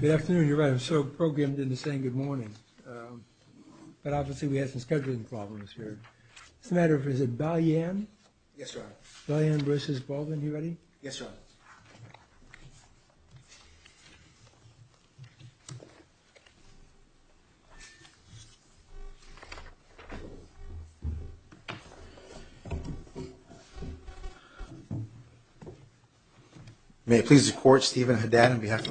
Good afternoon. You're right, I'm so programmed into saying good morning, but obviously we had some scheduling problems here. It's a matter of, is it Balyan? Yes, Your Honor. Balyan v. Baldwin. Are you ready? Yes, Your Honor. May it please the Court, Stephen Haddad on behalf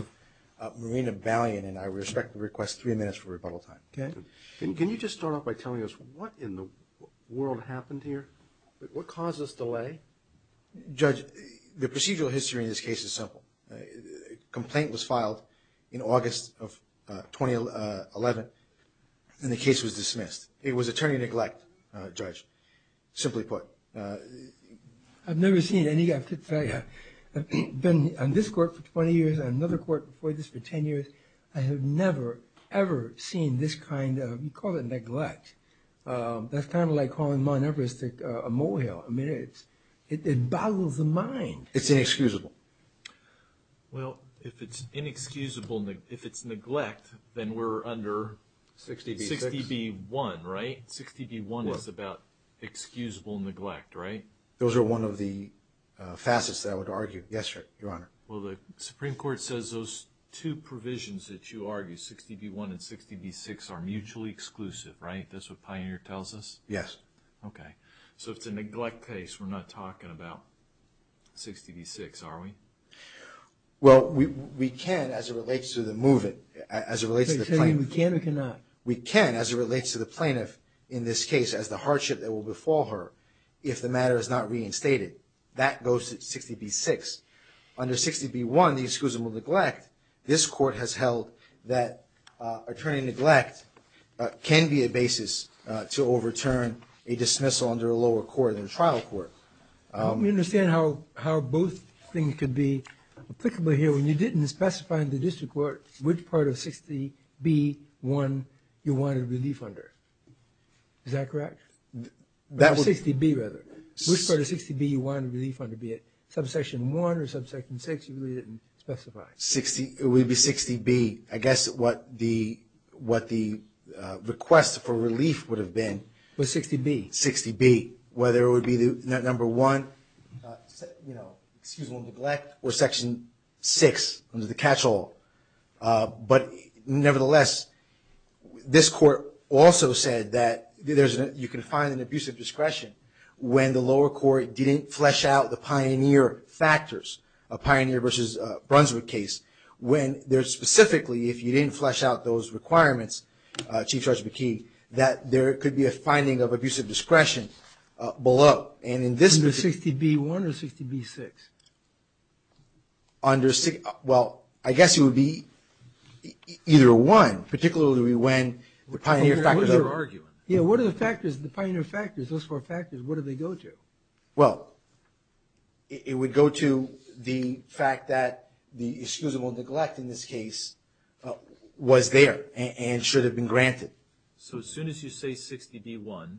of Marina Balyan, and I respectfully request three minutes for rebuttal time. Can you just start off by telling us what in the world happened here? What caused this delay? Judge, the procedural history in this case is simple. A complaint was filed in August of 2011, and the case was dismissed. It was attorney neglect, Judge, simply put. I've never seen any... I've been on this court for 20 years, on another court before this for 10 years. I have never, ever seen this kind of, you call it neglect. That's kind of like calling Mount Everest a molehill. I mean, it boggles the mind. It's inexcusable. Well, if it's inexcusable, if it's neglect, then we're under 60B1, right? 60B1 is about excusable neglect, right? Those are one of the facets that I would argue. Yes, Your Honor. Well, the Supreme Court says those two provisions that you argue, 60B1 and 60B6, are mutually exclusive, right? That's what Pioneer tells us? Yes. Okay. So if it's a neglect case, we're not talking about 60B6, are we? Well, we can as it relates to the plaintiff in this case as the hardship that will befall her if the matter is not reinstated. That goes to 60B6. Under 60B1, the excusable neglect, this court has held that attorney neglect can be a basis to overturn a dismissal under a lower court than a trial court. Let me understand how both things could be applicable here. When you didn't specify in the district court which part of 60B1 you wanted relief under. Is that correct? 60B, rather. Which part of 60B1 you wanted relief under, be it subsection 1 or subsection 6, you really didn't specify? It would be 60B, I guess what the request for relief would have been. Was 60B. Whether it would be number 1, excusable neglect, or section 6 under the catch-all. But nevertheless, this court also said that you can find an abusive discretion when the lower court didn't flesh out the Pioneer factors, a Pioneer versus Brunswick case. Specifically, if you didn't flesh out those requirements, Chief Judge McKee, that there could be a finding of abusive discretion below. Under 60B1 or 60B6? Well, I guess it would be either one, particularly when the Pioneer factors. What are the Pioneer factors, those four factors, what do they go to? Well, it would go to the fact that the excusable neglect in this case was there and should have been granted. So as soon as you say 60B1,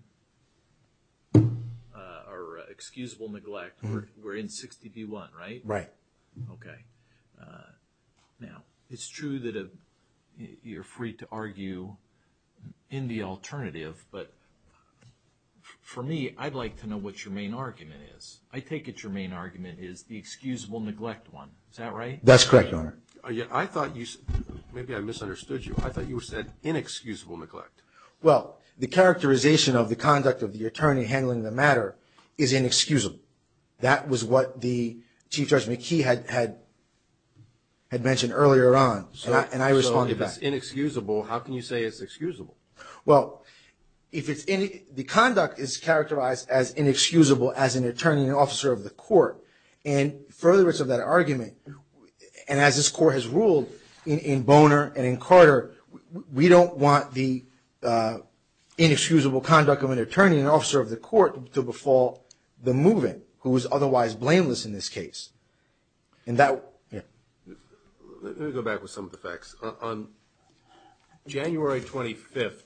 or excusable neglect, we're in 60B1, right? Right. Okay. Now, it's true that you're free to argue in the alternative, but for me, I'd like to know what your main argument is. I take it your main argument is the excusable neglect one. Is that right? That's correct, Your Honor. I thought you said, maybe I misunderstood you, I thought you said inexcusable neglect. Well, the characterization of the conduct of the attorney handling the matter is inexcusable. That was what the Chief Judge McKee had mentioned earlier on, and I responded back. So if it's inexcusable, how can you say it's excusable? Well, the conduct is characterized as inexcusable as an attorney and officer of the court, and for the rest of that argument, and as this Court has ruled in Boner and in Carter, we don't want the inexcusable conduct of an attorney and officer of the court to befall the moving, who is otherwise blameless in this case. Let me go back with some of the facts. On January 25th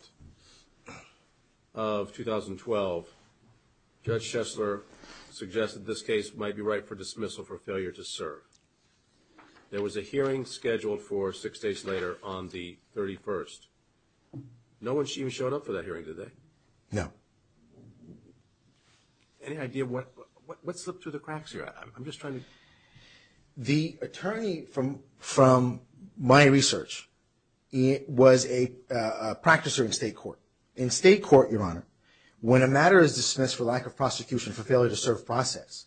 of 2012, Judge Shessler suggested this case might be right for dismissal for failure to serve. There was a hearing scheduled for six days later on the 31st. No one even showed up for that hearing, did they? No. Any idea what slipped through the cracks here? I'm just trying to... The attorney from my research was a practicer in state court. In state court, Your Honor, when a matter is dismissed for lack of prosecution for failure to serve process,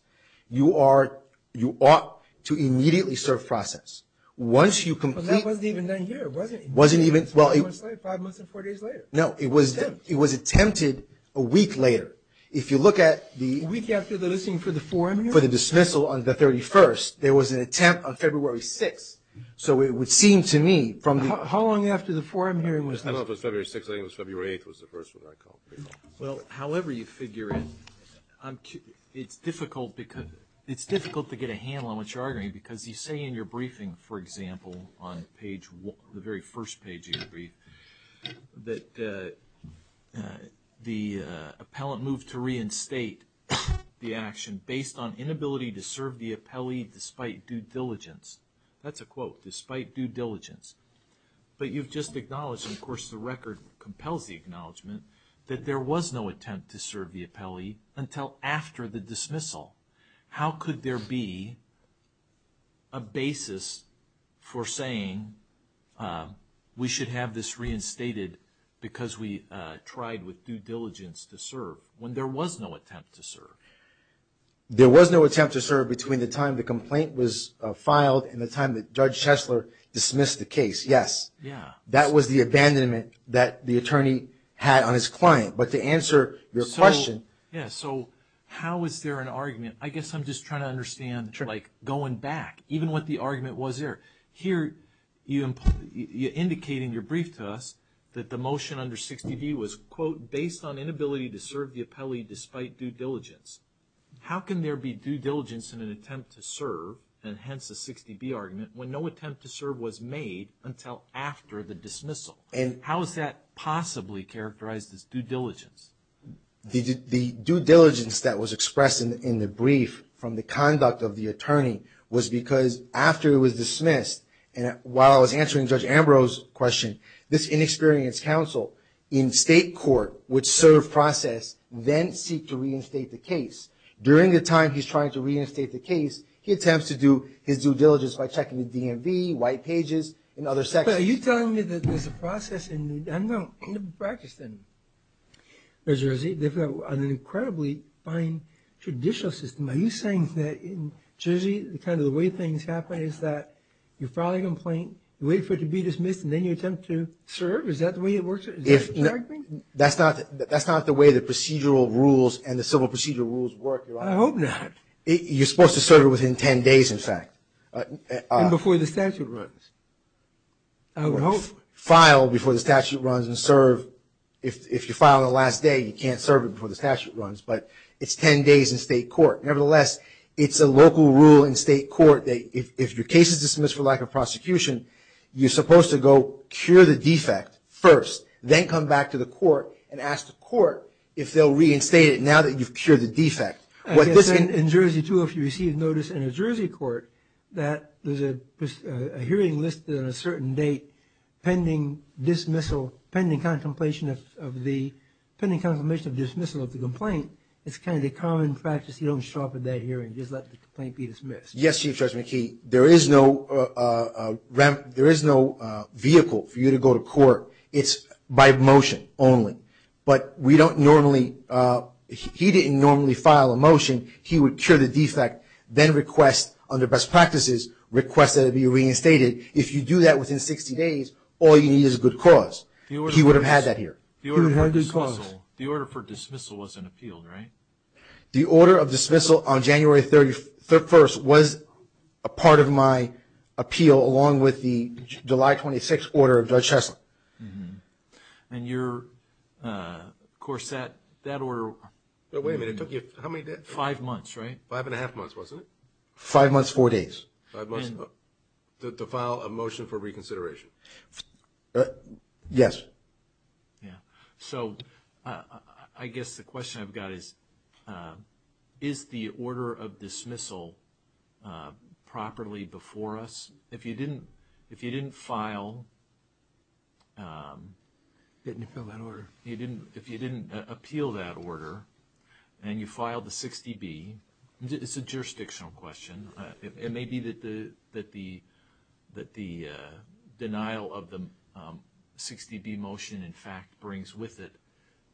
you ought to immediately serve process. Once you complete... But that wasn't even done here, was it? It wasn't even... Five months and four days later. No, it was attempted a week later. If you look at the... A week after the listening for the forum hearing? For the dismissal on the 31st, there was an attempt on February 6th. So it would seem to me from the... How long after the forum hearing was that? I don't know if it was February 6th. I think it was February 8th was the first one I called. Well, however you figure it, it's difficult to get a handle on what you're arguing because you say in your briefing, for example, on the very first page of your brief, that the appellant moved to reinstate the action based on inability to serve the appellee despite due diligence. That's a quote, despite due diligence. But you've just acknowledged, and of course the record compels the acknowledgement, that there was no attempt to serve the appellee until after the dismissal. How could there be a basis for saying we should have this reinstated because we tried with due diligence to serve when there was no attempt to serve? There was no attempt to serve between the time the complaint was filed and the time that Judge Chesler dismissed the case, yes. That was the abandonment that the attorney had on his client. But to answer your question... Yeah, so how is there an argument? I guess I'm just trying to understand, like, going back, even what the argument was there. Here, you indicate in your brief to us that the motion under 60B was, quote, based on inability to serve the appellee despite due diligence. How can there be due diligence in an attempt to serve, and hence a 60B argument, when no attempt to serve was made until after the dismissal? How is that possibly characterized as due diligence? The due diligence that was expressed in the brief from the conduct of the attorney was because after it was dismissed, and while I was answering Judge Ambrose's question, this inexperienced counsel in state court would serve process, then seek to reinstate the case. During the time he's trying to reinstate the case, he attempts to do his due diligence by checking the DMV, white pages, and other sections. But are you telling me that there's a process in practice in New Jersey? They've got an incredibly fine judicial system. Are you saying that in Jersey, kind of the way things happen is that you file a complaint, wait for it to be dismissed, and then you attempt to serve? Is that the way it works? That's not the way the procedural rules and the civil procedural rules work. I hope not. You're supposed to serve it within 10 days, in fact. And before the statute runs, I would hope. File before the statute runs and serve. If you file on the last day, you can't serve it before the statute runs. But it's 10 days in state court. Nevertheless, it's a local rule in state court that if your case is dismissed for lack of prosecution, you're supposed to go cure the defect first, then come back to the court and ask the court if they'll reinstate it now that you've cured the defect. In Jersey, too, if you receive notice in a Jersey court that there's a hearing listed on a certain date pending pending contemplation of dismissal of the complaint, it's kind of the common practice you don't sharpen that hearing, just let the complaint be dismissed. Yes, Chief Judge McKee. There is no vehicle for you to go to court. It's by motion only. But we don't normally – he didn't normally file a motion. He would cure the defect, then request under best practices, request that it be reinstated. If you do that within 60 days, all you need is a good cause. He would have had that here. He would have had a good cause. The order for dismissal wasn't appealed, right? The order of dismissal on January 31st was a part of my appeal along with the July 26th order of Judge Heslop. And your – of course, that order – Wait a minute. It took you how many days? Five months, right? Five and a half months, wasn't it? Five months, four days. Five months. To file a motion for reconsideration. Yes. Yeah. So I guess the question I've got is, is the order of dismissal properly before us? If you didn't file – Didn't appeal that order. If you didn't appeal that order and you filed the 60B, it's a jurisdictional question. It may be that the denial of the 60B motion, in fact, brings with it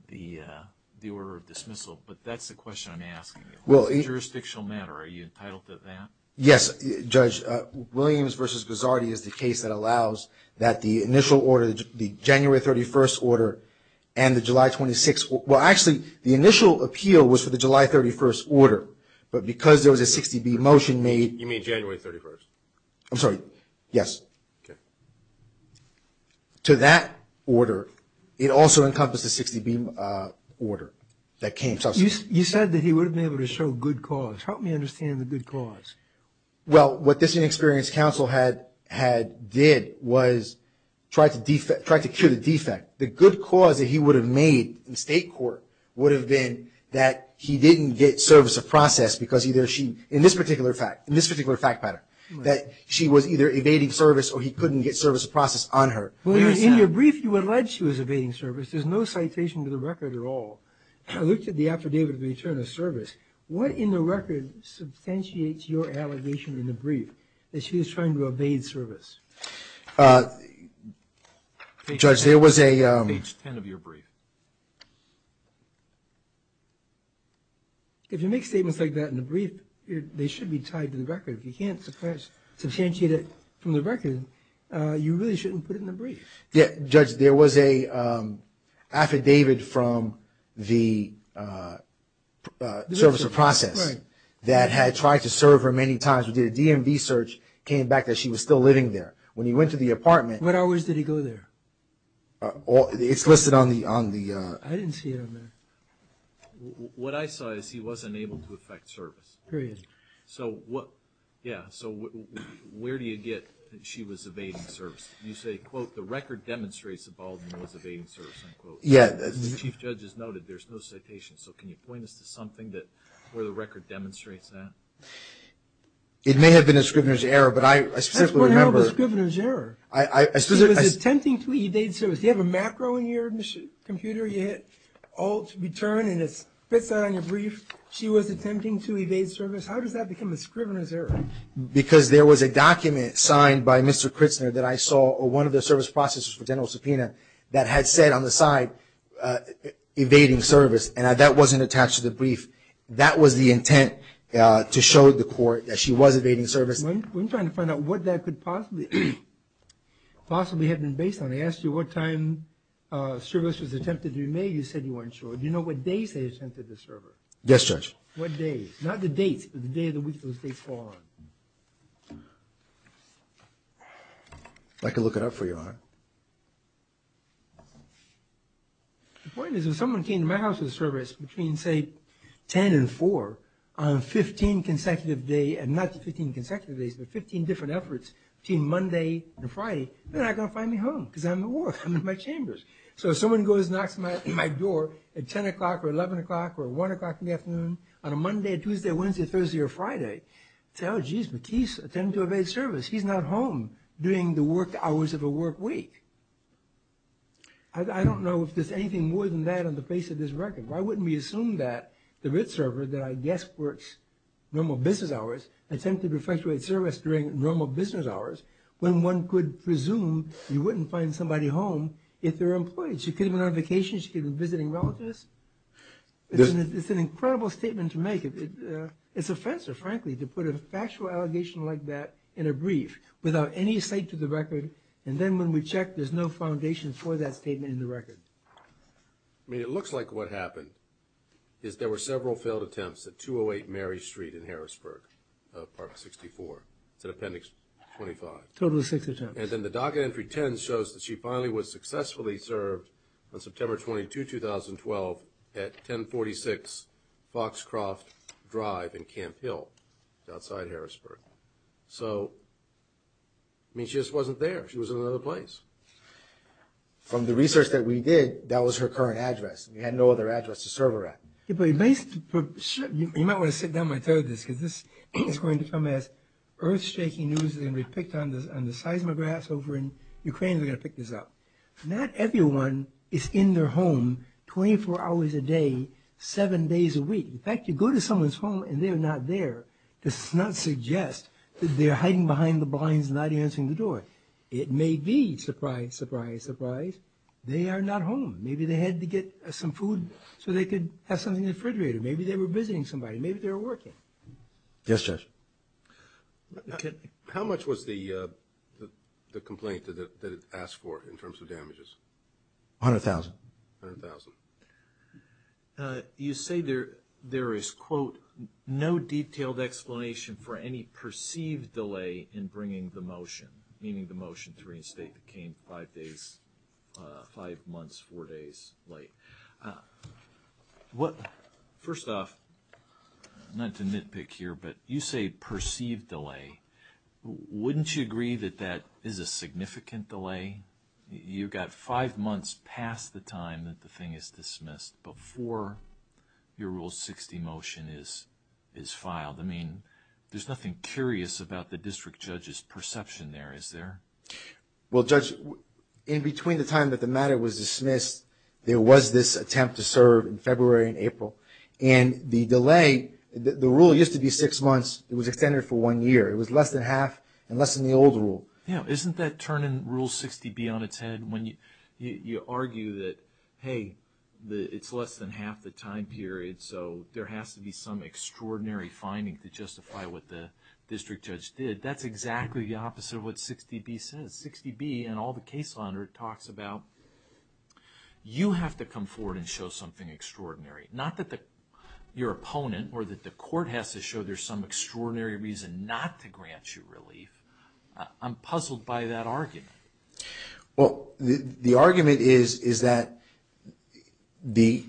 the order of dismissal. But that's the question I'm asking. It's a jurisdictional matter. Are you entitled to that? Yes, Judge. Williams v. Guzzardi is the case that allows that the initial order, the January 31st order and the July 26th – well, actually, the initial appeal was for the July 31st order. But because there was a 60B motion made – You mean January 31st? I'm sorry. Yes. Okay. To that order, it also encompasses the 60B order that came. You said that he would have been able to show good cause. Help me understand the good cause. Well, what this inexperienced counsel had did was try to cure the defect. The good cause that he would have made in state court would have been that he didn't get service of process because either she – in this particular fact, in this particular fact pattern, that she was either evading service or he couldn't get service of process on her. In your brief, you alleged she was evading service. There's no citation to the record at all. I looked at the affidavit of return of service. What in the record substantiates your allegation in the brief that she was trying to evade service? Judge, there was a – Page 10 of your brief. If you make statements like that in the brief, they should be tied to the record. If you can't substantiate it from the record, you really shouldn't put it in the brief. Judge, there was an affidavit from the service of process that had tried to serve her many times. We did a DMV search, came back that she was still living there. When you went to the apartment – What hours did he go there? It's listed on the – I didn't see it on there. What I saw is he wasn't able to effect service. Period. So what – yeah, so where do you get that she was evading service? You say, quote, the record demonstrates that Baldwin was evading service, unquote. Yeah. As the Chief Judge has noted, there's no citation, so can you point us to something where the record demonstrates that? It may have been a scrivener's error, but I specifically remember – How do you know it was a scrivener's error? She was attempting to evade service. Do you have a macro in your computer? You hit Alt, Return, and it spits out on your brief, she was attempting to evade service. How does that become a scrivener's error? Because there was a document signed by Mr. Kritzner that I saw, or one of the service processors for general subpoena, that had said on the side evading service, and that wasn't attached to the brief. That was the intent to show the court that she was evading service. I'm trying to find out what that could possibly have been based on. I asked you what time service was attempted in May. You said you weren't sure. Do you know what days they attempted the service? Yes, Judge. What days? Not the dates, but the day of the week those dates fall on. I can look it up for you, huh? The point is if someone came to my house with a service between, say, 10 and 4, on 15 consecutive days, not 15 consecutive days, but 15 different efforts between Monday and Friday, they're not going to find me home because I'm at work, I'm in my chambers. So if someone goes and knocks on my door at 10 o'clock or 11 o'clock or 1 o'clock in the afternoon, on a Monday, a Tuesday, a Wednesday, a Thursday, or a Friday, I say, oh, jeez, McKee attempted to evade service. He's not home during the work hours of a work week. I don't know if there's anything more than that on the face of this record. Why wouldn't we assume that the RIT server that I guess works normal business hours attempted to perpetuate service during normal business hours when one could presume you wouldn't find somebody home if they're employed? She could have been on vacation. She could have been visiting relatives. It's an incredible statement to make. It's offensive, frankly, to put a factual allegation like that in a brief without any sight to the record, and then when we check, there's no foundation for that statement in the record. I mean, it looks like what happened is there were several failed attempts at 208 Mary Street in Harrisburg, Park 64. Is that Appendix 25? Total of six attempts. And then the docket entry 10 shows that she finally was successfully served on September 22, 2012, at 1046 Foxcroft Drive in Camp Hill, outside Harrisburg. So, I mean, she just wasn't there. She was in another place. From the research that we did, that was her current address. We had no other address to serve her at. You might want to sit down while I tell you this, because this is going to come as earth-shaking news that's going to be picked on the seismographs over in Ukraine who are going to pick this up. Not everyone is in their home 24 hours a day, seven days a week. In fact, you go to someone's home and they're not there, does not suggest that they're hiding behind the blinds, not answering the door. It may be, surprise, surprise, surprise, they are not home. Maybe they had to get some food so they could have something in the refrigerator. Maybe they were visiting somebody. Maybe they were working. Yes, Judge. How much was the complaint that it asked for in terms of damages? $100,000. $100,000. You say there is, quote, no detailed explanation for any perceived delay in bringing the motion, meaning the motion to reinstate the cane five days, five months, four days late. First off, not to nitpick here, but you say perceived delay. Wouldn't you agree that that is a significant delay? You've got five months past the time that the thing is dismissed, before your Rule 60 motion is filed. I mean, there's nothing curious about the district judge's perception there, is there? Well, Judge, in between the time that the matter was dismissed, there was this attempt to serve in February and April, and the delay, the rule used to be six months. It was extended for one year. It was less than half and less than the old rule. Isn't that turning Rule 60B on its head when you argue that, hey, it's less than half the time period, so there has to be some extraordinary finding to justify what the district judge did? That's exactly the opposite of what 60B says. 60B and all the case launderer talks about you have to come forward and show something extraordinary, not that your opponent or that the court has to show there's some extraordinary reason not to grant you relief. I'm puzzled by that argument. Well, the argument is that the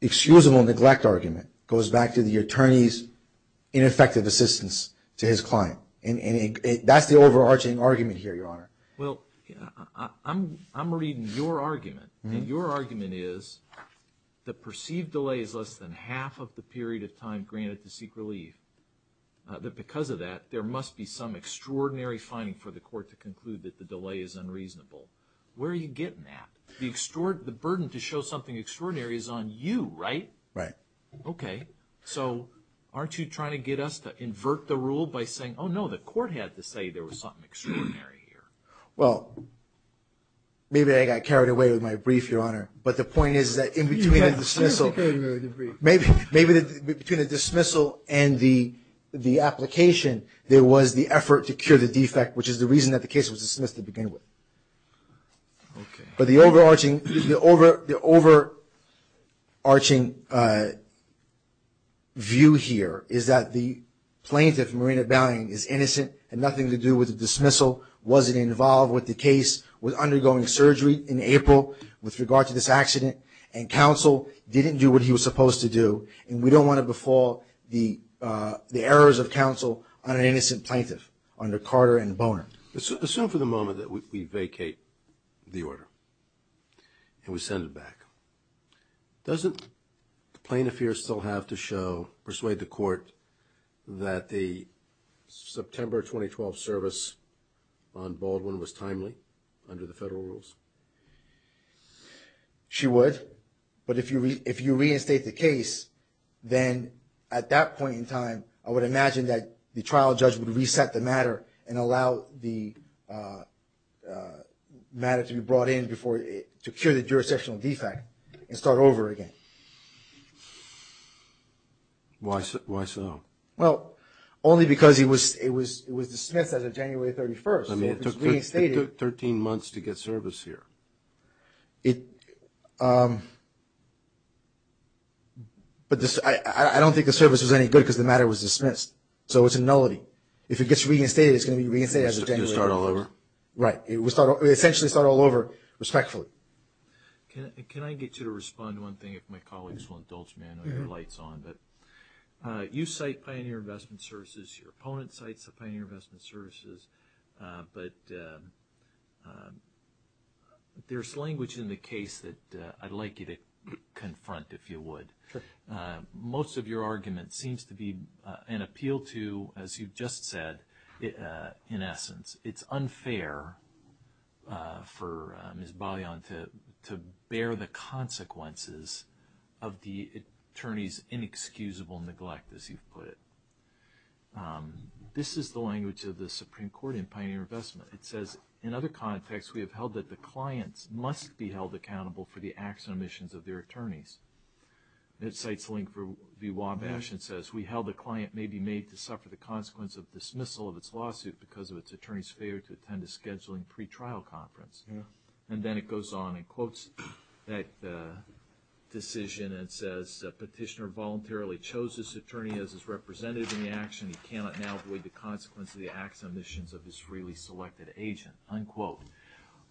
excusable neglect argument goes back to the attorney's ineffective assistance to his client. That's the overarching argument here, Your Honor. Well, I'm reading your argument, and your argument is the perceived delay is less than half of the period of time granted to seek relief, that because of that, there must be some extraordinary finding for the court to conclude that the delay is unreasonable. Where are you getting that? The burden to show something extraordinary is on you, right? Right. Okay. So aren't you trying to get us to invert the rule by saying, oh, no, the court had to say there was something extraordinary here? Well, maybe I got carried away with my brief, Your Honor, but the point is that in between the dismissal and the application, there was the effort to cure the defect, which is the reason that the case was dismissed to begin with. But the overarching view here is that the plaintiff, Marina Balian, is innocent, had nothing to do with the dismissal, wasn't involved with the case, was undergoing surgery in April with regard to this accident, and counsel didn't do what he was supposed to do, and we don't want to befall the errors of counsel on an innocent plaintiff under Carter and Boner. Assume for the moment that we vacate the order and we send it back. Doesn't the plaintiff here still have to show, persuade the court, that the September 2012 service on Baldwin was timely under the federal rules? She would. But if you reinstate the case, then at that point in time, I would imagine that the trial judge would reset the matter and allow the matter to be brought in to cure the jurisdictional defect and start over again. Why so? Well, only because it was dismissed as of January 31st. I mean, it took 13 months to get service here. But I don't think the service was any good because the matter was dismissed. So it's a nullity. If it gets reinstated, it's going to be reinstated as of January 31st. It will start all over? Right. It will essentially start all over, respectfully. Can I get you to respond to one thing, if my colleagues will indulge me? I know your light's on. You cite Pioneer Investment Services. Your opponent cites the Pioneer Investment Services. But there's language in the case that I'd like you to confront, if you would. Sure. Most of your argument seems to be an appeal to, as you've just said, in essence, it's unfair for Ms. Baillon to bear the consequences of the attorney's inexcusable neglect, as you've put it. This is the language of the Supreme Court in Pioneer Investment. It says, in other contexts, we have held that the clients must be held accountable for the acts and omissions of their attorneys. It cites Link v. Wabash and says, we held the client may be made to suffer the consequence of dismissal of its lawsuit because of its attorney's failure to attend a scheduling pretrial conference. And then it goes on and quotes that decision and says, the petitioner voluntarily chose his attorney as his representative in the action. He cannot now void the consequence of the acts and omissions of his freely selected agent, unquote.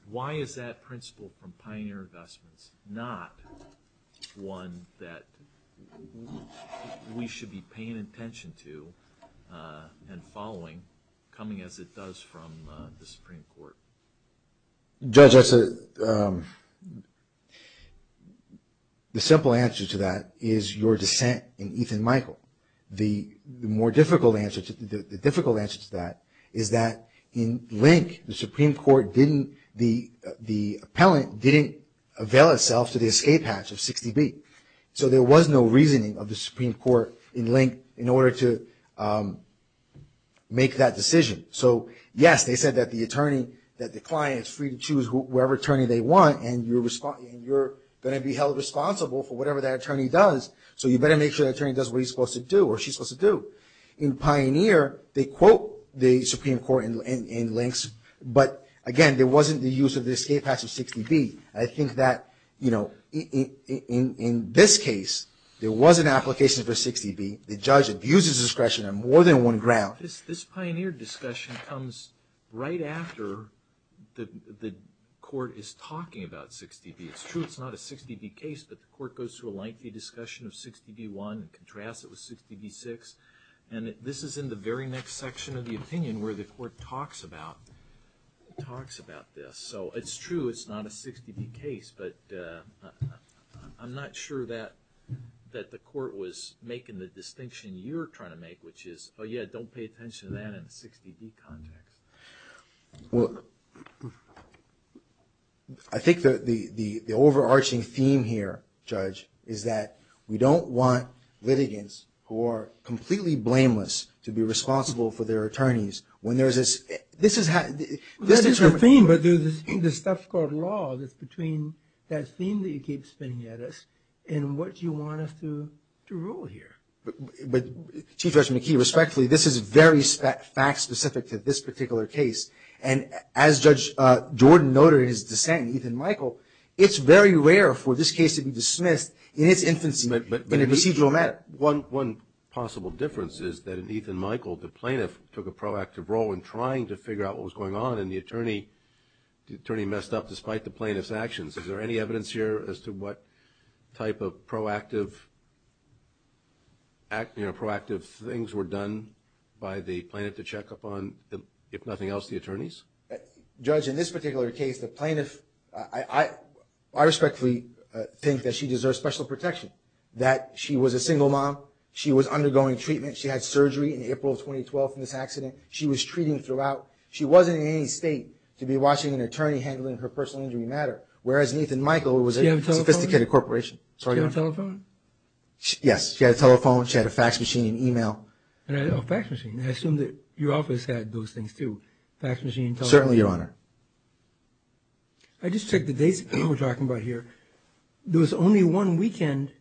Why is that principle from Pioneer Investments not one that we should be paying attention to and following, coming as it does from the Supreme Court? Judge, the simple answer to that is your dissent in Ethan Michael. The more difficult answer to that is that in Link, the Supreme Court didn't, the appellant didn't avail itself to the escape hatch of 60B. So there was no reasoning of the Supreme Court in Link in order to make that decision. So yes, they said that the attorney, that the client is free to choose whatever attorney they want and you're going to be held responsible for whatever that attorney does. So you better make sure that attorney does what he's supposed to do or she's supposed to do. In Pioneer, they quote the Supreme Court in Links, but again, there wasn't the use of the escape hatch of 60B. I think that, you know, in this case, there was an application for 60B. The judge abuses discretion on more than one ground. This Pioneer discussion comes right after the court is talking about 60B. It's true it's not a 60B case, but the court goes through a lengthy discussion of 60B-1 and contrasts it with 60B-6. And this is in the very next section of the opinion where the court talks about this. So it's true it's not a 60B case, but I'm not sure that the court was making the distinction you're trying to make, which is, oh, yeah, don't pay attention to that in a 60B context. Well, I think the overarching theme here, Judge, is that we don't want litigants who are completely blameless to be responsible for their attorneys. When there's this – this is how – That is the theme, but there's this stuff called law that's between that theme that you keep spinning at us and what you want us to rule here. Chief Judge McKee, respectfully, this is very fact-specific to this particular case. And as Judge Jordan noted in his dissent, Ethan Michael, it's very rare for this case to be dismissed in its infancy in a procedural matter. One possible difference is that in Ethan Michael, the plaintiff took a proactive role in trying to figure out what was going on, and the attorney messed up despite the plaintiff's actions. Is there any evidence here as to what type of proactive, you know, proactive things were done by the plaintiff to check up on, if nothing else, the attorneys? Judge, in this particular case, the plaintiff – I respectfully think that she deserves special protection, that she was a single mom, she was undergoing treatment, she had surgery in April of 2012 from this accident, she was treating throughout – she wasn't in any state to be watching an attorney handling her personal injury matter, whereas Ethan Michael was a sophisticated corporation. Did she have a telephone? Yes, she had a telephone, she had a fax machine and email. Oh, a fax machine. I assume that your office had those things too. Certainly, Your Honor. I just checked the dates that we're talking about here. There was only one weekend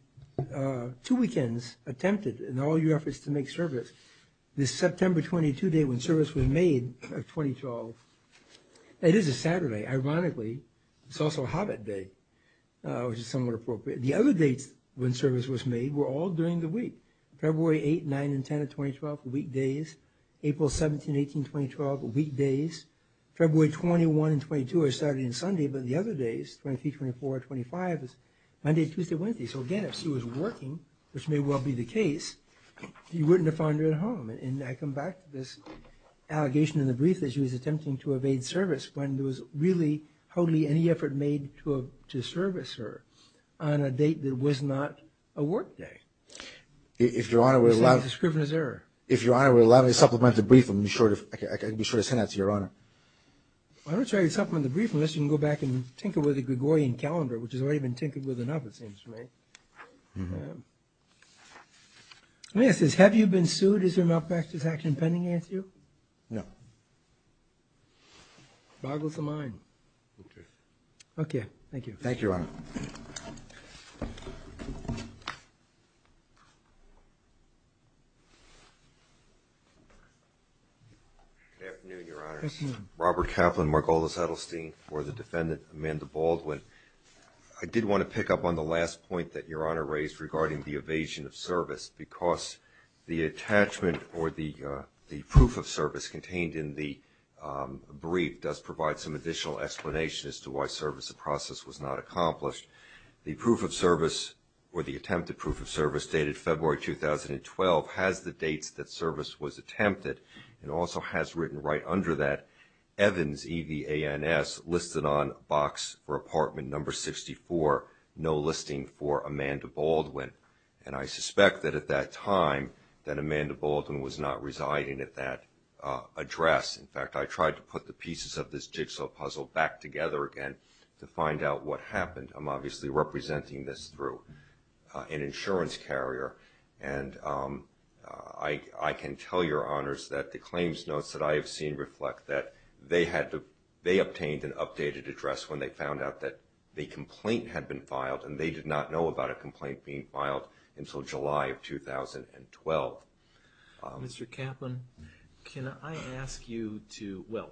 – two weekends attempted in all your efforts to make service. This September 22 date when service was made of 2012, it is a Saturday, ironically. It's also Hobbit Day, which is somewhat appropriate. The other dates when service was made were all during the week. February 8, 9, and 10 of 2012, weekdays. April 17, 18, 2012, weekdays. February 21 and 22 are Saturday and Sunday, but the other days, 23, 24, 25, is Monday, Tuesday, Wednesday. So, again, if she was working, which may well be the case, you wouldn't have found her at home. And I come back to this allegation in the brief that she was attempting to evade service when there was really hardly any effort made to service her on a date that was not a work day. You're saying it's a scrivener's error. If Your Honor would allow me to supplement the brief, I can be sure to send that to Your Honor. Why don't you supplement the brief unless you can go back and tinker with the Gregorian calendar, which has already been tinkered with enough, it seems to me. It says, have you been sued? Is there a malpractice action pending against you? No. Boggles the mind. Okay, thank you. Thank you, Your Honor. Good afternoon, Your Honor. Good afternoon. Robert Kaplan, Margolis Edelstein, for the defendant, Amanda Baldwin. I did want to pick up on the last point that Your Honor raised regarding the evasion of service because the attachment or the proof of service contained in the brief does provide some additional explanation as to why service of process was not accomplished. The proof of service or the attempted proof of service dated February 2012 has the dates that service was attempted and also has written right under that Evans, E-V-A-N-S listed on box for apartment number 64, no listing for Amanda Baldwin. And I suspect that at that time that Amanda Baldwin was not residing at that address. In fact, I tried to put the pieces of this jigsaw puzzle back together again to find out what happened. I'm obviously representing this through an insurance carrier. And I can tell Your Honors that the claims notes that I have seen reflect that they obtained an updated address when they found out that the complaint had been filed. And they did not know about a complaint being filed until July of 2012. Mr. Kaplan, can I ask you to, well,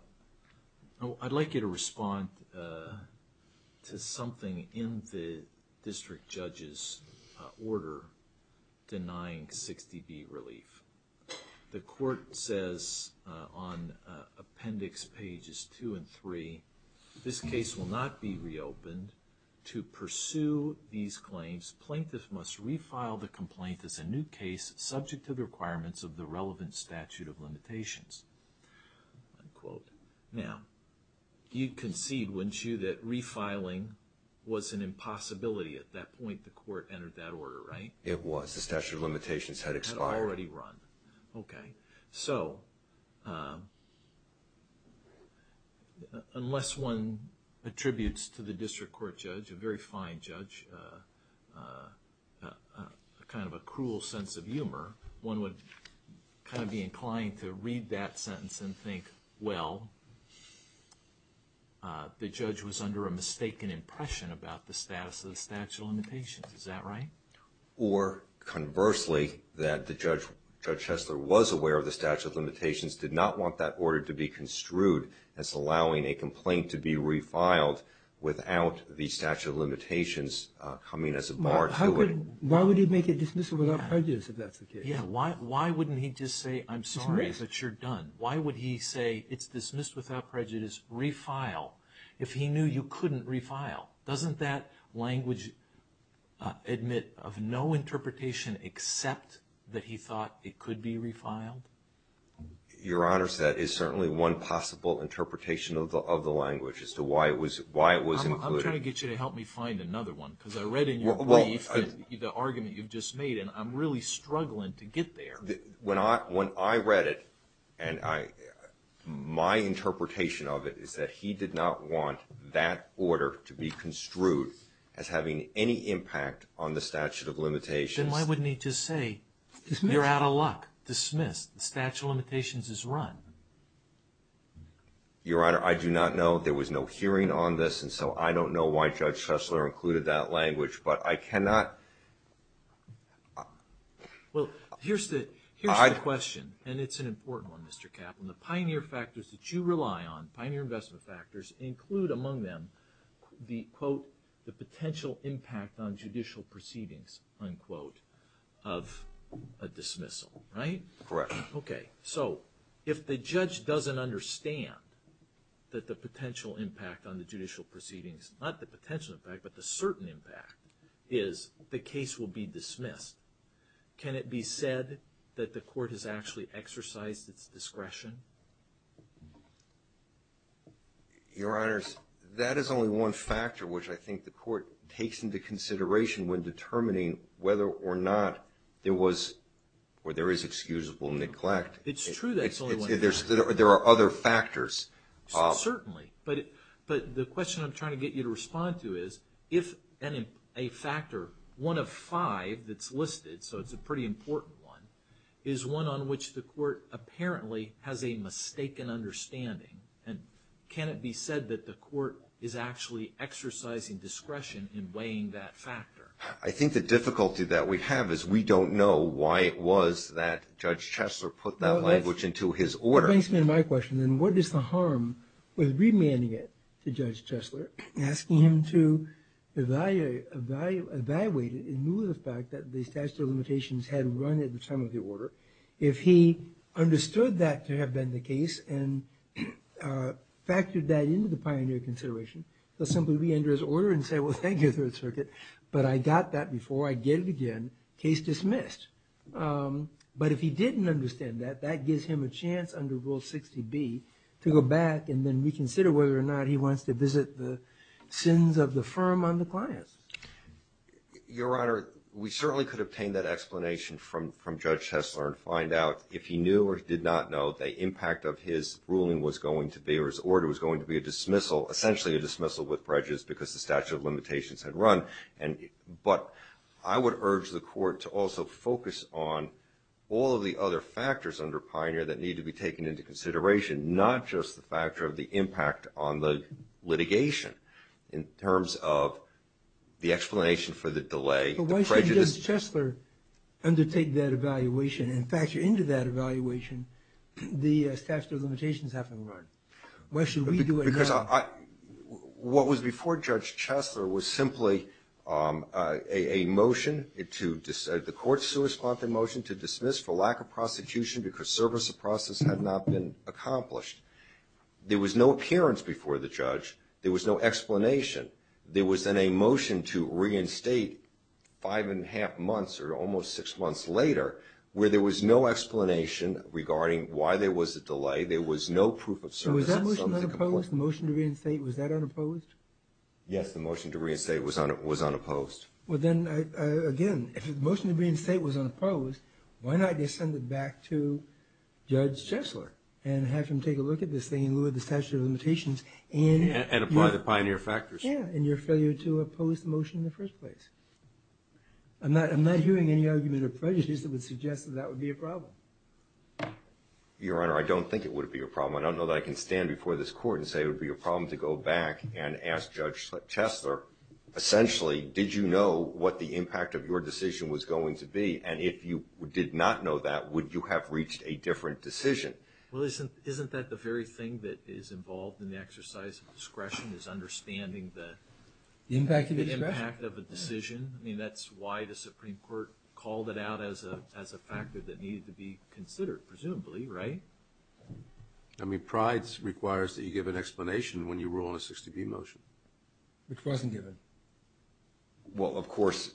I'd like you to respond to something in the district judge's order denying 60B relief. The court says on appendix pages 2 and 3, this case will not be reopened. To pursue these claims, plaintiffs must refile the complaint as a new case subject to the requirements of the relevant statute of limitations, unquote. Now, you'd concede, wouldn't you, that refiling was an impossibility. At that point, the court entered that order, right? It was. Had already run. Okay. So, unless one attributes to the district court judge, a very fine judge, kind of a cruel sense of humor, one would kind of be inclined to read that sentence and think, well, the judge was under a mistaken impression about the status of the statute of limitations. Is that right? Or, conversely, that the judge, Judge Hessler, was aware of the statute of limitations, did not want that order to be construed as allowing a complaint to be refiled without the statute of limitations coming as a bar to it. Why would he make it dismissal without prejudice if that's the case? Yeah, why wouldn't he just say, I'm sorry, but you're done? Why would he say, it's dismissed without prejudice, refile, if he knew you couldn't refile? Doesn't that language admit of no interpretation except that he thought it could be refiled? Your Honor, that is certainly one possible interpretation of the language as to why it was included. I'm trying to get you to help me find another one because I read in your brief the argument you've just made, and I'm really struggling to get there. When I read it, and my interpretation of it is that he did not want that order to be construed as having any impact on the statute of limitations. Then why wouldn't he just say, you're out of luck, dismissed, the statute of limitations is run? Your Honor, I do not know. There was no hearing on this, and so I don't know why Judge Hessler included that language, but I cannot. Well, here's the question, and it's an important one, Mr. Caplan. The pioneer factors that you rely on, pioneer investment factors, include among them the, quote, the potential impact on judicial proceedings, unquote, of a dismissal, right? Correct. Okay, so if the judge doesn't understand that the potential impact on the judicial proceedings, not the potential impact, but the certain impact, is the case will be dismissed, can it be said that the court has actually exercised its discretion? Your Honors, that is only one factor which I think the court takes into consideration when determining whether or not there was or there is excusable neglect. It's true that it's only one factor. There are other factors. Certainly, but the question I'm trying to get you to respond to is if a factor, one of five that's listed, so it's a pretty important one, is one on which the court apparently has a mistaken understanding, can it be said that the court is actually exercising discretion in weighing that factor? I think the difficulty that we have is we don't know why it was that Judge Hessler put that language into his order. That brings me to my question, then, what is the harm with remanding it to Judge Hessler, asking him to evaluate it in lieu of the fact that the statute of limitations had run at the time of the order? If he understood that to have been the case and factored that into the pioneer consideration, he'll simply reenter his order and say, well, thank you, Third Circuit, but I got that before, I did it again, case dismissed. But if he didn't understand that, that gives him a chance under Rule 60B to go back and then reconsider whether or not he wants to visit the sins of the firm on the clients. Your Honor, we certainly could obtain that explanation from Judge Hessler and find out if he knew or did not know the impact of his ruling was going to be, or his order was going to be a dismissal, essentially a dismissal with breaches, just because the statute of limitations had run. But I would urge the Court to also focus on all of the other factors under pioneer that need to be taken into consideration, not just the factor of the impact on the litigation in terms of the explanation for the delay, the prejudice. But why should Judge Hessler undertake that evaluation and factor into that evaluation the statute of limitations having run? Why should we do it now? Because what was before Judge Hessler was simply a motion, the Court's corresponding motion to dismiss for lack of prosecution because service of process had not been accomplished. There was no appearance before the judge. There was no explanation. There was then a motion to reinstate five and a half months or almost six months later where there was no explanation regarding why there was a delay. There was no proof of service. Now, was that motion unopposed? The motion to reinstate, was that unopposed? Yes, the motion to reinstate was unopposed. Well, then, again, if the motion to reinstate was unopposed, why not just send it back to Judge Hessler and have him take a look at this thing and look at the statute of limitations and… And apply the pioneer factors. Yeah, and your failure to oppose the motion in the first place. I'm not hearing any argument or prejudice that would suggest that that would be a problem. Your Honor, I don't think it would be a problem. I don't know that I can stand before this court and say it would be a problem to go back and ask Judge Hessler, essentially, did you know what the impact of your decision was going to be? And if you did not know that, would you have reached a different decision? Well, isn't that the very thing that is involved in the exercise of discretion is understanding the impact of a decision? I mean, that's why the Supreme Court called it out as a factor that needed to be considered, presumably, right? I mean, pride requires that you give an explanation when you rule on a 60B motion. Which wasn't given. Well, of course,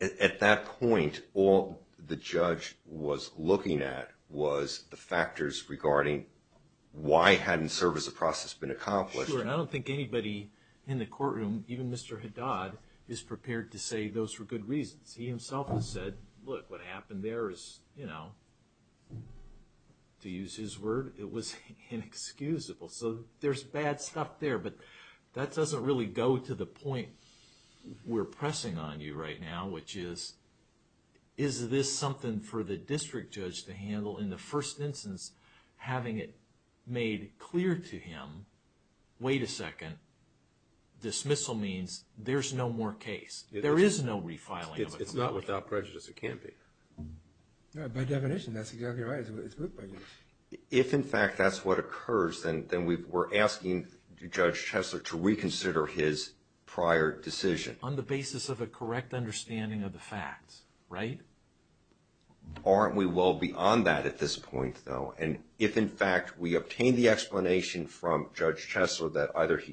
at that point, all the judge was looking at was the factors regarding why hadn't service of process been accomplished. Sure, and I don't think anybody in the courtroom, even Mr. Haddad, is prepared to say those were good reasons. He himself has said, look, what happened there is, you know, to use his word, it was inexcusable. So, there's bad stuff there. But that doesn't really go to the point we're pressing on you right now, which is, is this something for the district judge to handle? In the first instance, having it made clear to him, wait a second, dismissal means there's no more case. There is no refiling. It's not without prejudice. It can't be. By definition, that's exactly right. It's good by definition. If, in fact, that's what occurs, then we're asking Judge Chesler to reconsider his prior decision. On the basis of a correct understanding of the facts, right? Aren't we well beyond that at this point, though? And if, in fact, we obtain the explanation from Judge Chesler that either he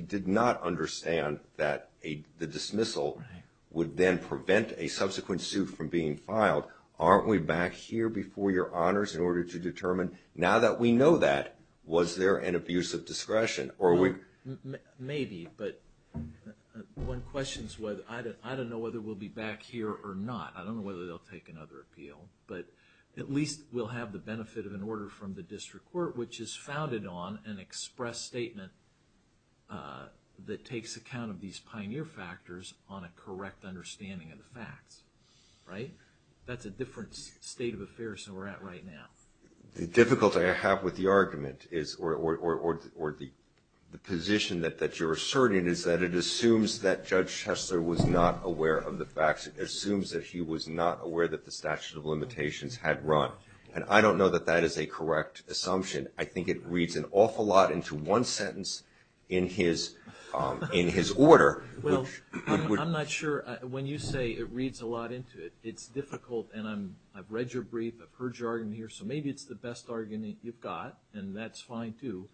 did not understand that the dismissal would then prevent a subsequent suit from being filed, aren't we back here before your honors in order to determine, now that we know that, was there an abuse of discretion? Maybe, but one question is, I don't know whether we'll be back here or not. I don't know whether they'll take another appeal. But at least we'll have the benefit of an order from the district court, which is founded on an express statement that takes account of these pioneer factors on a correct understanding of the facts, right? That's a different state of affairs than we're at right now. The difficulty I have with the argument is, or the position that you're asserting, is that it assumes that Judge Chesler was not aware of the facts. It assumes that he was not aware that the statute of limitations had run. And I don't know that that is a correct assumption. I think it reads an awful lot into one sentence in his order. Well, I'm not sure. When you say it reads a lot into it, it's difficult. And I've read your brief. I've heard your argument here. So maybe it's the best argument you've got, and that's fine, too.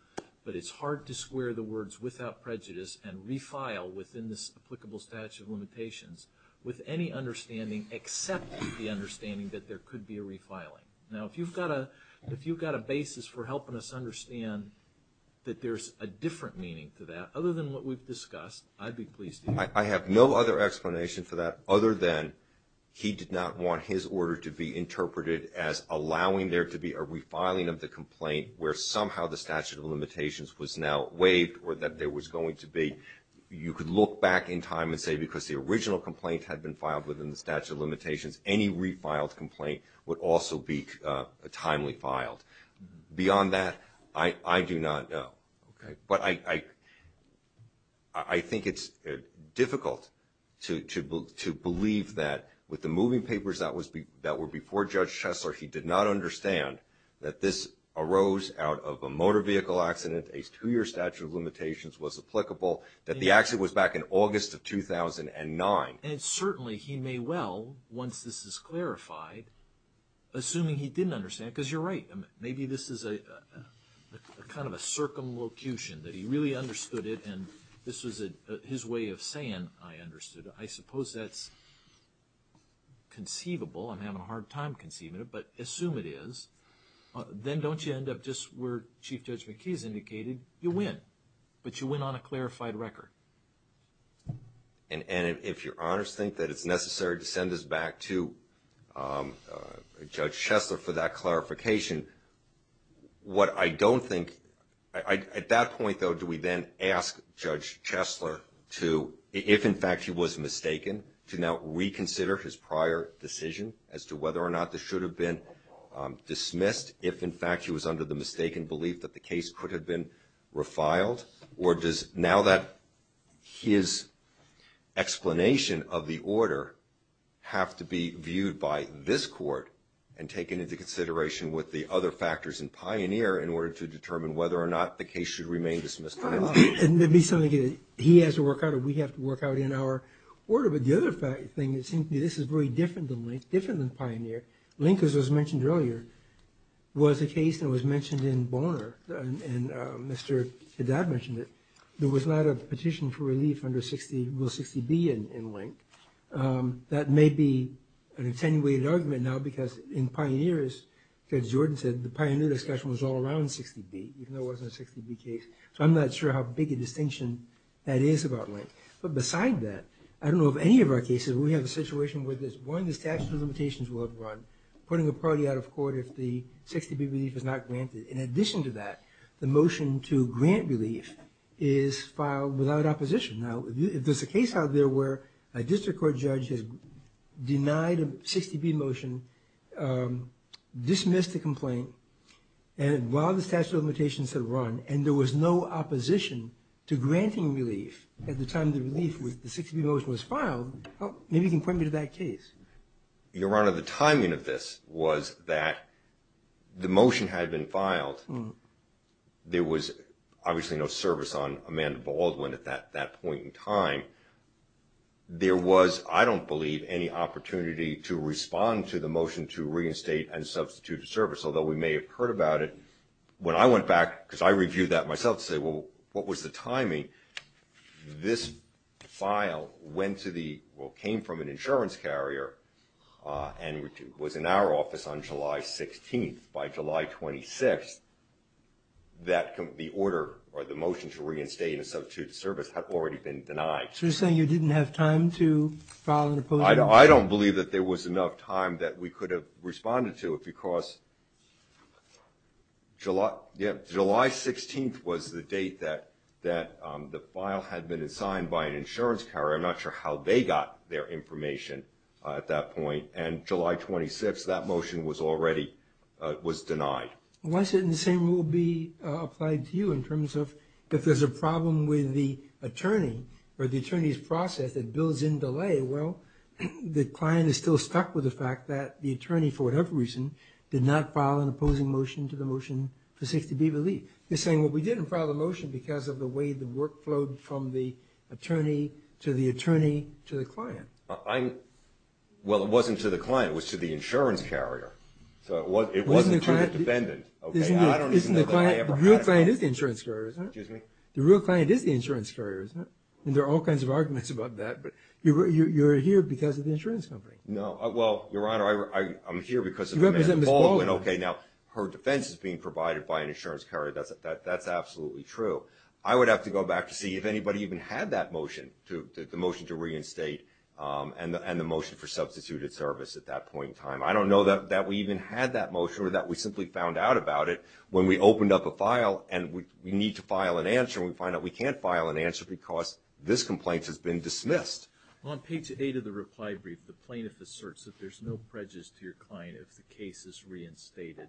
But it's hard to square the words without prejudice and refile within this applicable statute of limitations with any understanding except the understanding that there could be a refiling. Now, if you've got a basis for helping us understand that there's a different meaning to that, other than what we've discussed, I'd be pleased to hear it. I have no other explanation for that other than he did not want his order to be interpreted as allowing there to be a refiling of the complaint where somehow the statute of limitations was now waived or that there was going to be. You could look back in time and say because the original complaint had been filed within the statute of limitations, any refiled complaint would also be timely filed. Beyond that, I do not know. But I think it's difficult to believe that with the moving papers that were before Judge Shessler, he did not understand that this arose out of a motor vehicle accident, a two-year statute of limitations was applicable, that the accident was back in August of 2009. And certainly he may well, once this is clarified, assuming he didn't understand, because you're right, maybe this is kind of a circumlocution that he really understood it and this was his way of saying I understood it. I suppose that's conceivable. I'm having a hard time conceiving it, but assume it is. Then don't you end up just where Chief Judge McKee has indicated, you win. But you win on a clarified record. And if your honors think that it's necessary to send this back to Judge Shessler for that clarification, what I don't think, at that point, though, do we then ask Judge Shessler to, if in fact he was mistaken, to now reconsider his prior decision as to whether or not this should have been dismissed, if in fact he was under the mistaken belief that the case could have been refiled? Or does now that his explanation of the order have to be viewed by this court and taken into consideration with the other factors in Pioneer in order to determine whether or not the case should remain dismissed? It would be something that he has to work out or we have to work out in our order. But the other thing, it seems to me this is very different than Pioneer. Link, as was mentioned earlier, was a case that was mentioned in Bonner and Mr. Haddad mentioned it. There was not a petition for relief under 60B in Link. That may be an attenuated argument now because in Pioneer, as Judge Jordan said, the Pioneer discussion was all around 60B, even though it wasn't a 60B case. So I'm not sure how big a distinction that is about Link. But beside that, I don't know of any of our cases where we have a situation where there's one, the statute of limitations will have run, putting a party out of court if the 60B relief is not granted. In addition to that, the motion to grant relief is filed without opposition. Now, if there's a case out there where a district court judge has denied a 60B motion, dismissed the complaint, and while the statute of limitations had run and there was no opposition to granting relief at the time the 60B motion was filed, maybe you can point me to that case. Your Honor, the timing of this was that the motion had been filed. There was obviously no service on Amanda Baldwin at that point in time. There was, I don't believe, any opportunity to respond to the motion to reinstate and substitute a service, although we may have heard about it. When I went back, because I reviewed that myself, to say, well, what was the timing? This file went to the, well, came from an insurance carrier and was in our office on July 16th. By July 26th, the order or the motion to reinstate and substitute a service had already been denied. So you're saying you didn't have time to file an opposing motion? I don't believe that there was enough time that we could have responded to it, July 16th was the date that the file had been signed by an insurance carrier. I'm not sure how they got their information at that point. And July 26th, that motion was already, was denied. Why shouldn't the same rule be applied to you in terms of if there's a problem with the attorney or the attorney's process that builds in delay, well, the client is still stuck with the fact that the attorney, for whatever reason, did not file an opposing motion to the motion to 60B relief. You're saying, well, we didn't file the motion because of the way the work flowed from the attorney to the attorney to the client. Well, it wasn't to the client. It was to the insurance carrier. So it wasn't to the defendant. The real client is the insurance carrier, isn't it? Excuse me? The real client is the insurance carrier, isn't it? And there are all kinds of arguments about that, but you're here because of the insurance company. No. Well, Your Honor, I'm here because of Amanda Baldwin. You represent Ms. Baldwin. Okay. Now, her defense is being provided by an insurance carrier. That's absolutely true. I would have to go back to see if anybody even had that motion, the motion to reinstate, and the motion for substituted service at that point in time. I don't know that we even had that motion or that we simply found out about it when we opened up a file and we need to file an answer and we find out we can't file an answer because this complaint has been dismissed. On page 8 of the reply brief, the plaintiff asserts that there's no prejudice to your client if the case is reinstated.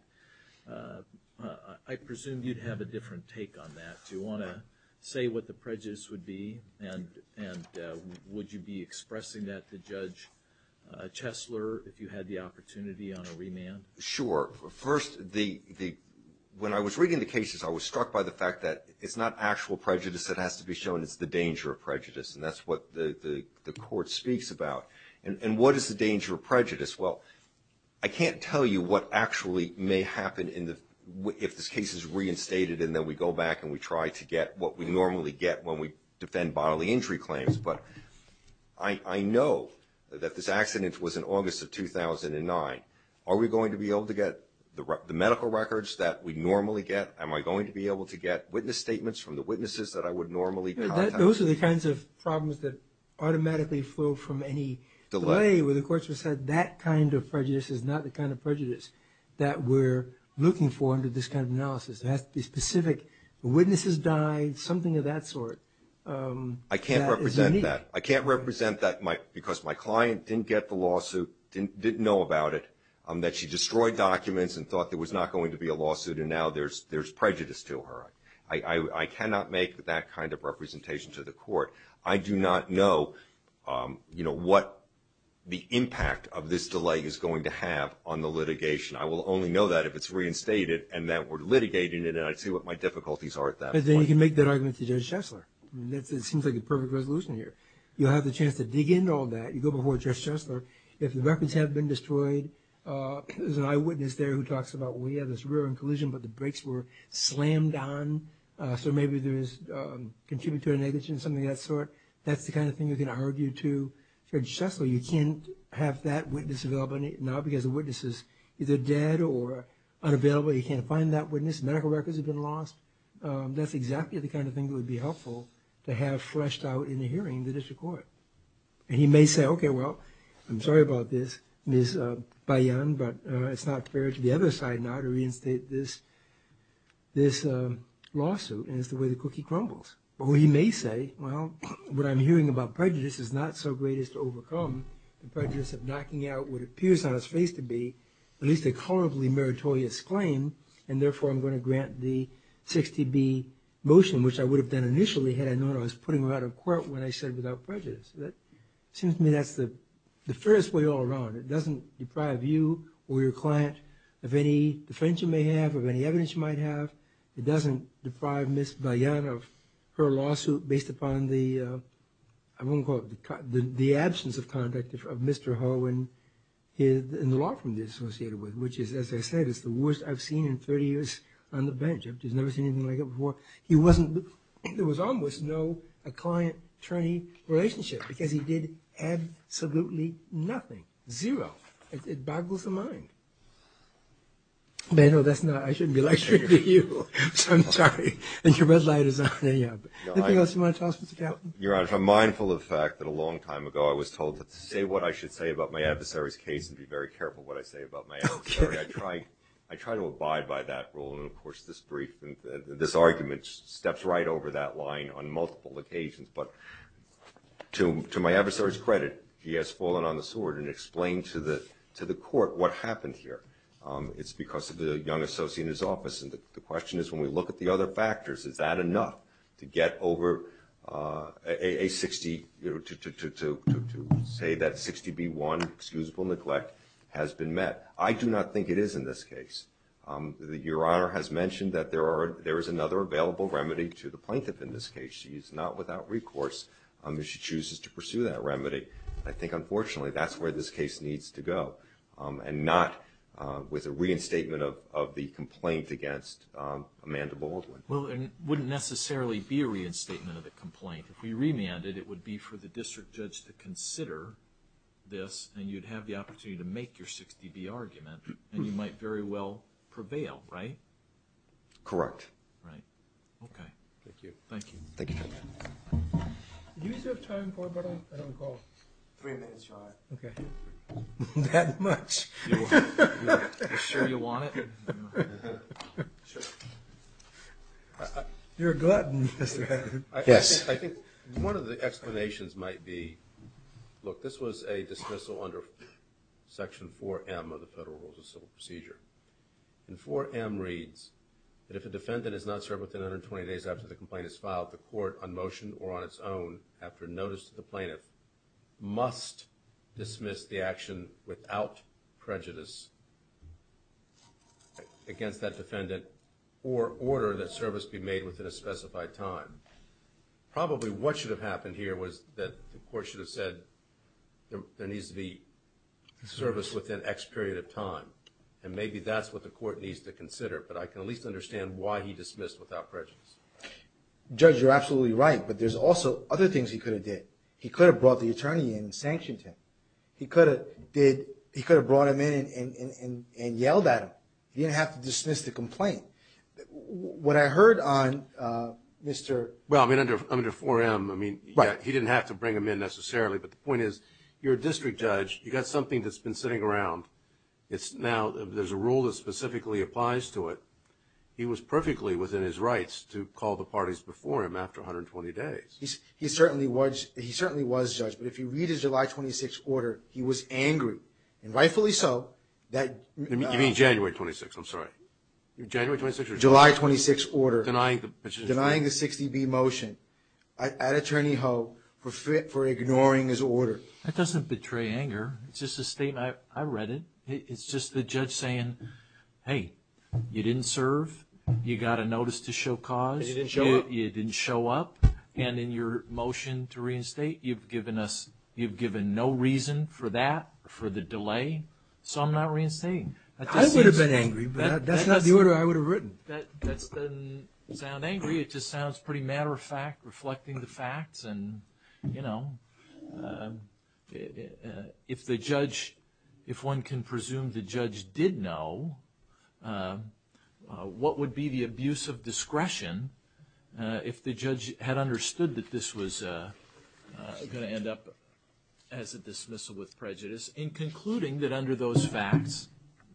I presume you'd have a different take on that. Do you want to say what the prejudice would be, and would you be expressing that to Judge Chesler if you had the opportunity on a remand? Sure. First, when I was reading the cases, I was struck by the fact that it's not actual prejudice that has to be shown. It's the danger of prejudice, and that's what the court speaks about. And what is the danger of prejudice? Well, I can't tell you what actually may happen if this case is reinstated and then we go back and we try to get what we normally get when we defend bodily injury claims, but I know that this accident was in August of 2009. Are we going to be able to get the medical records that we normally get? Am I going to be able to get witness statements from the witnesses that I would normally contact? Those are the kinds of problems that automatically flow from any delay where the courts have said that kind of prejudice is not the kind of prejudice that we're looking for under this kind of analysis. It has to be specific. Witnesses died, something of that sort. I can't represent that. I can't represent that because my client didn't get the lawsuit, didn't know about it, that she destroyed documents and thought there was not going to be a lawsuit and now there's prejudice to her. I cannot make that kind of representation to the court. I do not know what the impact of this delay is going to have on the litigation. I will only know that if it's reinstated and that we're litigating it and I'd see what my difficulties are at that point. Then you can make that argument to Judge Chesler. It seems like a perfect resolution here. You'll have the chance to dig into all that. You go before Judge Chesler. If the records have been destroyed, there's an eyewitness there who talks about, well, yeah, there's a rear-end collision, but the brakes were slammed on, so maybe there's contributed to a negligence, something of that sort. That's the kind of thing you can argue to Judge Chesler. You can't have that witness available now because the witness is either dead or unavailable. You can't find that witness. Medical records have been lost. That's exactly the kind of thing that would be helpful to have freshed out in the hearing in the district court. And he may say, okay, well, I'm sorry about this, Ms. Bayan, but it's not fair to the other side now to reinstate this lawsuit, and it's the way the cookie crumbles. Or he may say, well, what I'm hearing about prejudice is not so great as to overcome the prejudice of knocking out what appears on its face to be at least a colorably meritorious claim, and therefore I'm going to grant the 60B motion, which I would have done initially had I known I was putting her out of court when I said without prejudice. It seems to me that's the fairest way all around. It doesn't deprive you or your client of any defense you may have or any evidence you might have. It doesn't deprive Ms. Bayan of her lawsuit based upon the, I won't call it, the absence of conduct of Mr. Ho and the law firm he's associated with, which is, as I said, it's the worst I've seen in 30 years on the bench. I've just never seen anything like it before. He wasn't, there was almost no client-attorney relationship because he did absolutely nothing, zero. It boggles the mind. But I know that's not, I shouldn't be lecturing to you, so I'm sorry. And your red light is on. Anything else you want to tell us, Mr. Talton? Your Honor, if I'm mindful of the fact that a long time ago I was told to say what I should say about my adversary's case and be very careful what I say about my adversary, I try to abide by that rule. And, of course, this argument steps right over that line on multiple occasions. But to my adversary's credit, he has fallen on the sword and explained to the court what happened here. It's because of the young associate in his office. And the question is, when we look at the other factors, is that enough to get over a 60, to say that 60B1 excusable neglect has been met? I do not think it is in this case. Your Honor has mentioned that there is another available remedy to the plaintiff in this case. She is not without recourse if she chooses to pursue that remedy. I think, unfortunately, that's where this case needs to go and not with a reinstatement of the complaint against Amanda Baldwin. Well, it wouldn't necessarily be a reinstatement of the complaint. If we remanded, it would be for the district judge to consider this, and you'd have the opportunity to make your 60B argument, and you might very well prevail, right? Correct. Right. Okay. Thank you. Thank you. Thank you, Your Honor. Do you still have time for another call? Three minutes, Your Honor. Okay. That much? You sure you want it? You're a glutton, Mr. Hannon. Yes. I think one of the explanations might be, look, this was a dismissal under Section 4M of the Federal Rules of Civil Procedure. And 4M reads that if a defendant is not served within 120 days after the complaint is filed, the court, on motion or on its own, after notice to the plaintiff, must dismiss the action without prejudice against that defendant or order that service be made within a specified time. Probably what should have happened here was that the court should have said there needs to be service within X period of time, and maybe that's what the court needs to consider, but I can at least understand why he dismissed without prejudice. Judge, you're absolutely right, but there's also other things he could have did. He could have brought the attorney in and sanctioned him. He could have brought him in and yelled at him. He didn't have to dismiss the complaint. What I heard on Mr.… Well, I mean, under 4M, I mean, he didn't have to bring him in necessarily, but the point is, you're a district judge. You've got something that's been sitting around. Now there's a rule that specifically applies to it. He was perfectly within his rights to call the parties before him after 120 days. He certainly was, Judge, but if you read his July 26 order, he was angry. And rightfully so. You mean January 26, I'm sorry. January 26 or July 26. July 26 order. Denying the 60B motion. At Attorney Ho for ignoring his order. That doesn't betray anger. It's just a statement. I read it. It's just the judge saying, hey, you didn't serve. You got a notice to show cause. You didn't show up. You didn't show up. And in your motion to reinstate, you've given no reason for that, for the delay. So I'm not reinstating. I would have been angry, but that's not the order I would have written. That doesn't sound angry. It just sounds pretty matter of fact, reflecting the facts. And, you know, if the judge, if one can presume the judge did know, what would be the abuse of discretion if the judge had understood that this was going to end up as a dismissal with prejudice in concluding that under those facts,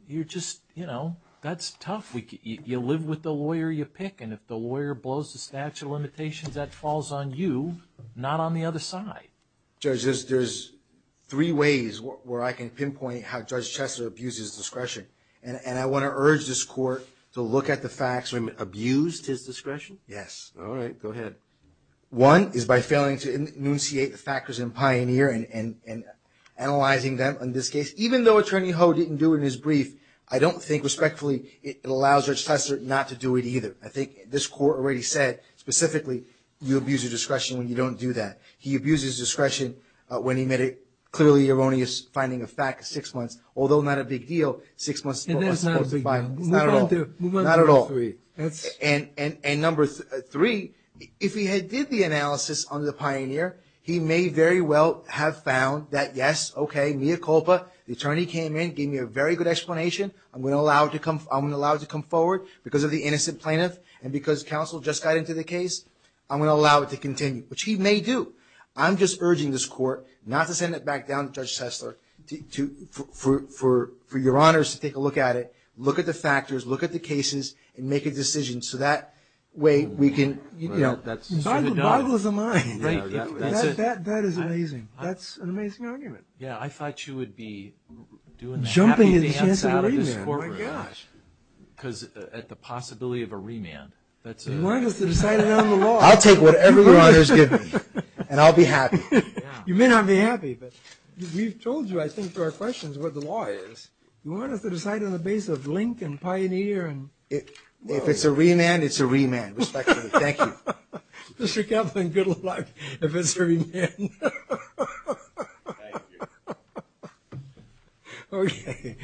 you're just, you know, that's tough. You live with the lawyer you pick. And if the lawyer blows the statute of limitations, that falls on you, not on the other side. Judge, there's three ways where I can pinpoint how Judge Chester abused his discretion. And I want to urge this court to look at the facts when it abused his discretion. Yes. All right. Go ahead. One is by failing to enunciate the factors in Pioneer and analyzing them in this case. Even though Attorney Ho didn't do it in his brief, I don't think respectfully it allows Judge Chester not to do it either. I think this court already said, specifically, you abuse your discretion when you don't do that. He abuses discretion when he made a clearly erroneous finding of facts six months, although not a big deal, six months before the final. Not at all. Not at all. And number three, if he had did the analysis under Pioneer, he may very well have found that, yes, okay, mea culpa. The attorney came in, gave me a very good explanation. I'm going to allow it to come forward because of the innocent plaintiff, and because counsel just got into the case, I'm going to allow it to continue, which he may do. I'm just urging this court not to send it back down to Judge Chester for your honors to take a look at it, look at the factors, look at the cases, and make a decision so that way we can. That's true to doubt. That is amazing. That's an amazing argument. Yeah, I thought you would be doing the happy dance out of this courtroom. Oh, my gosh. Because at the possibility of a remand. You want us to decide it on the law. I'll take whatever your honors give me, and I'll be happy. You may not be happy, but we've told you, I think, to our questions what the law is. You want us to decide on the basis of Link and Pioneer. If it's a remand, it's a remand, respectfully. Thank you. Mr. Kaplan, good luck if it's a remand. Thank you. All right.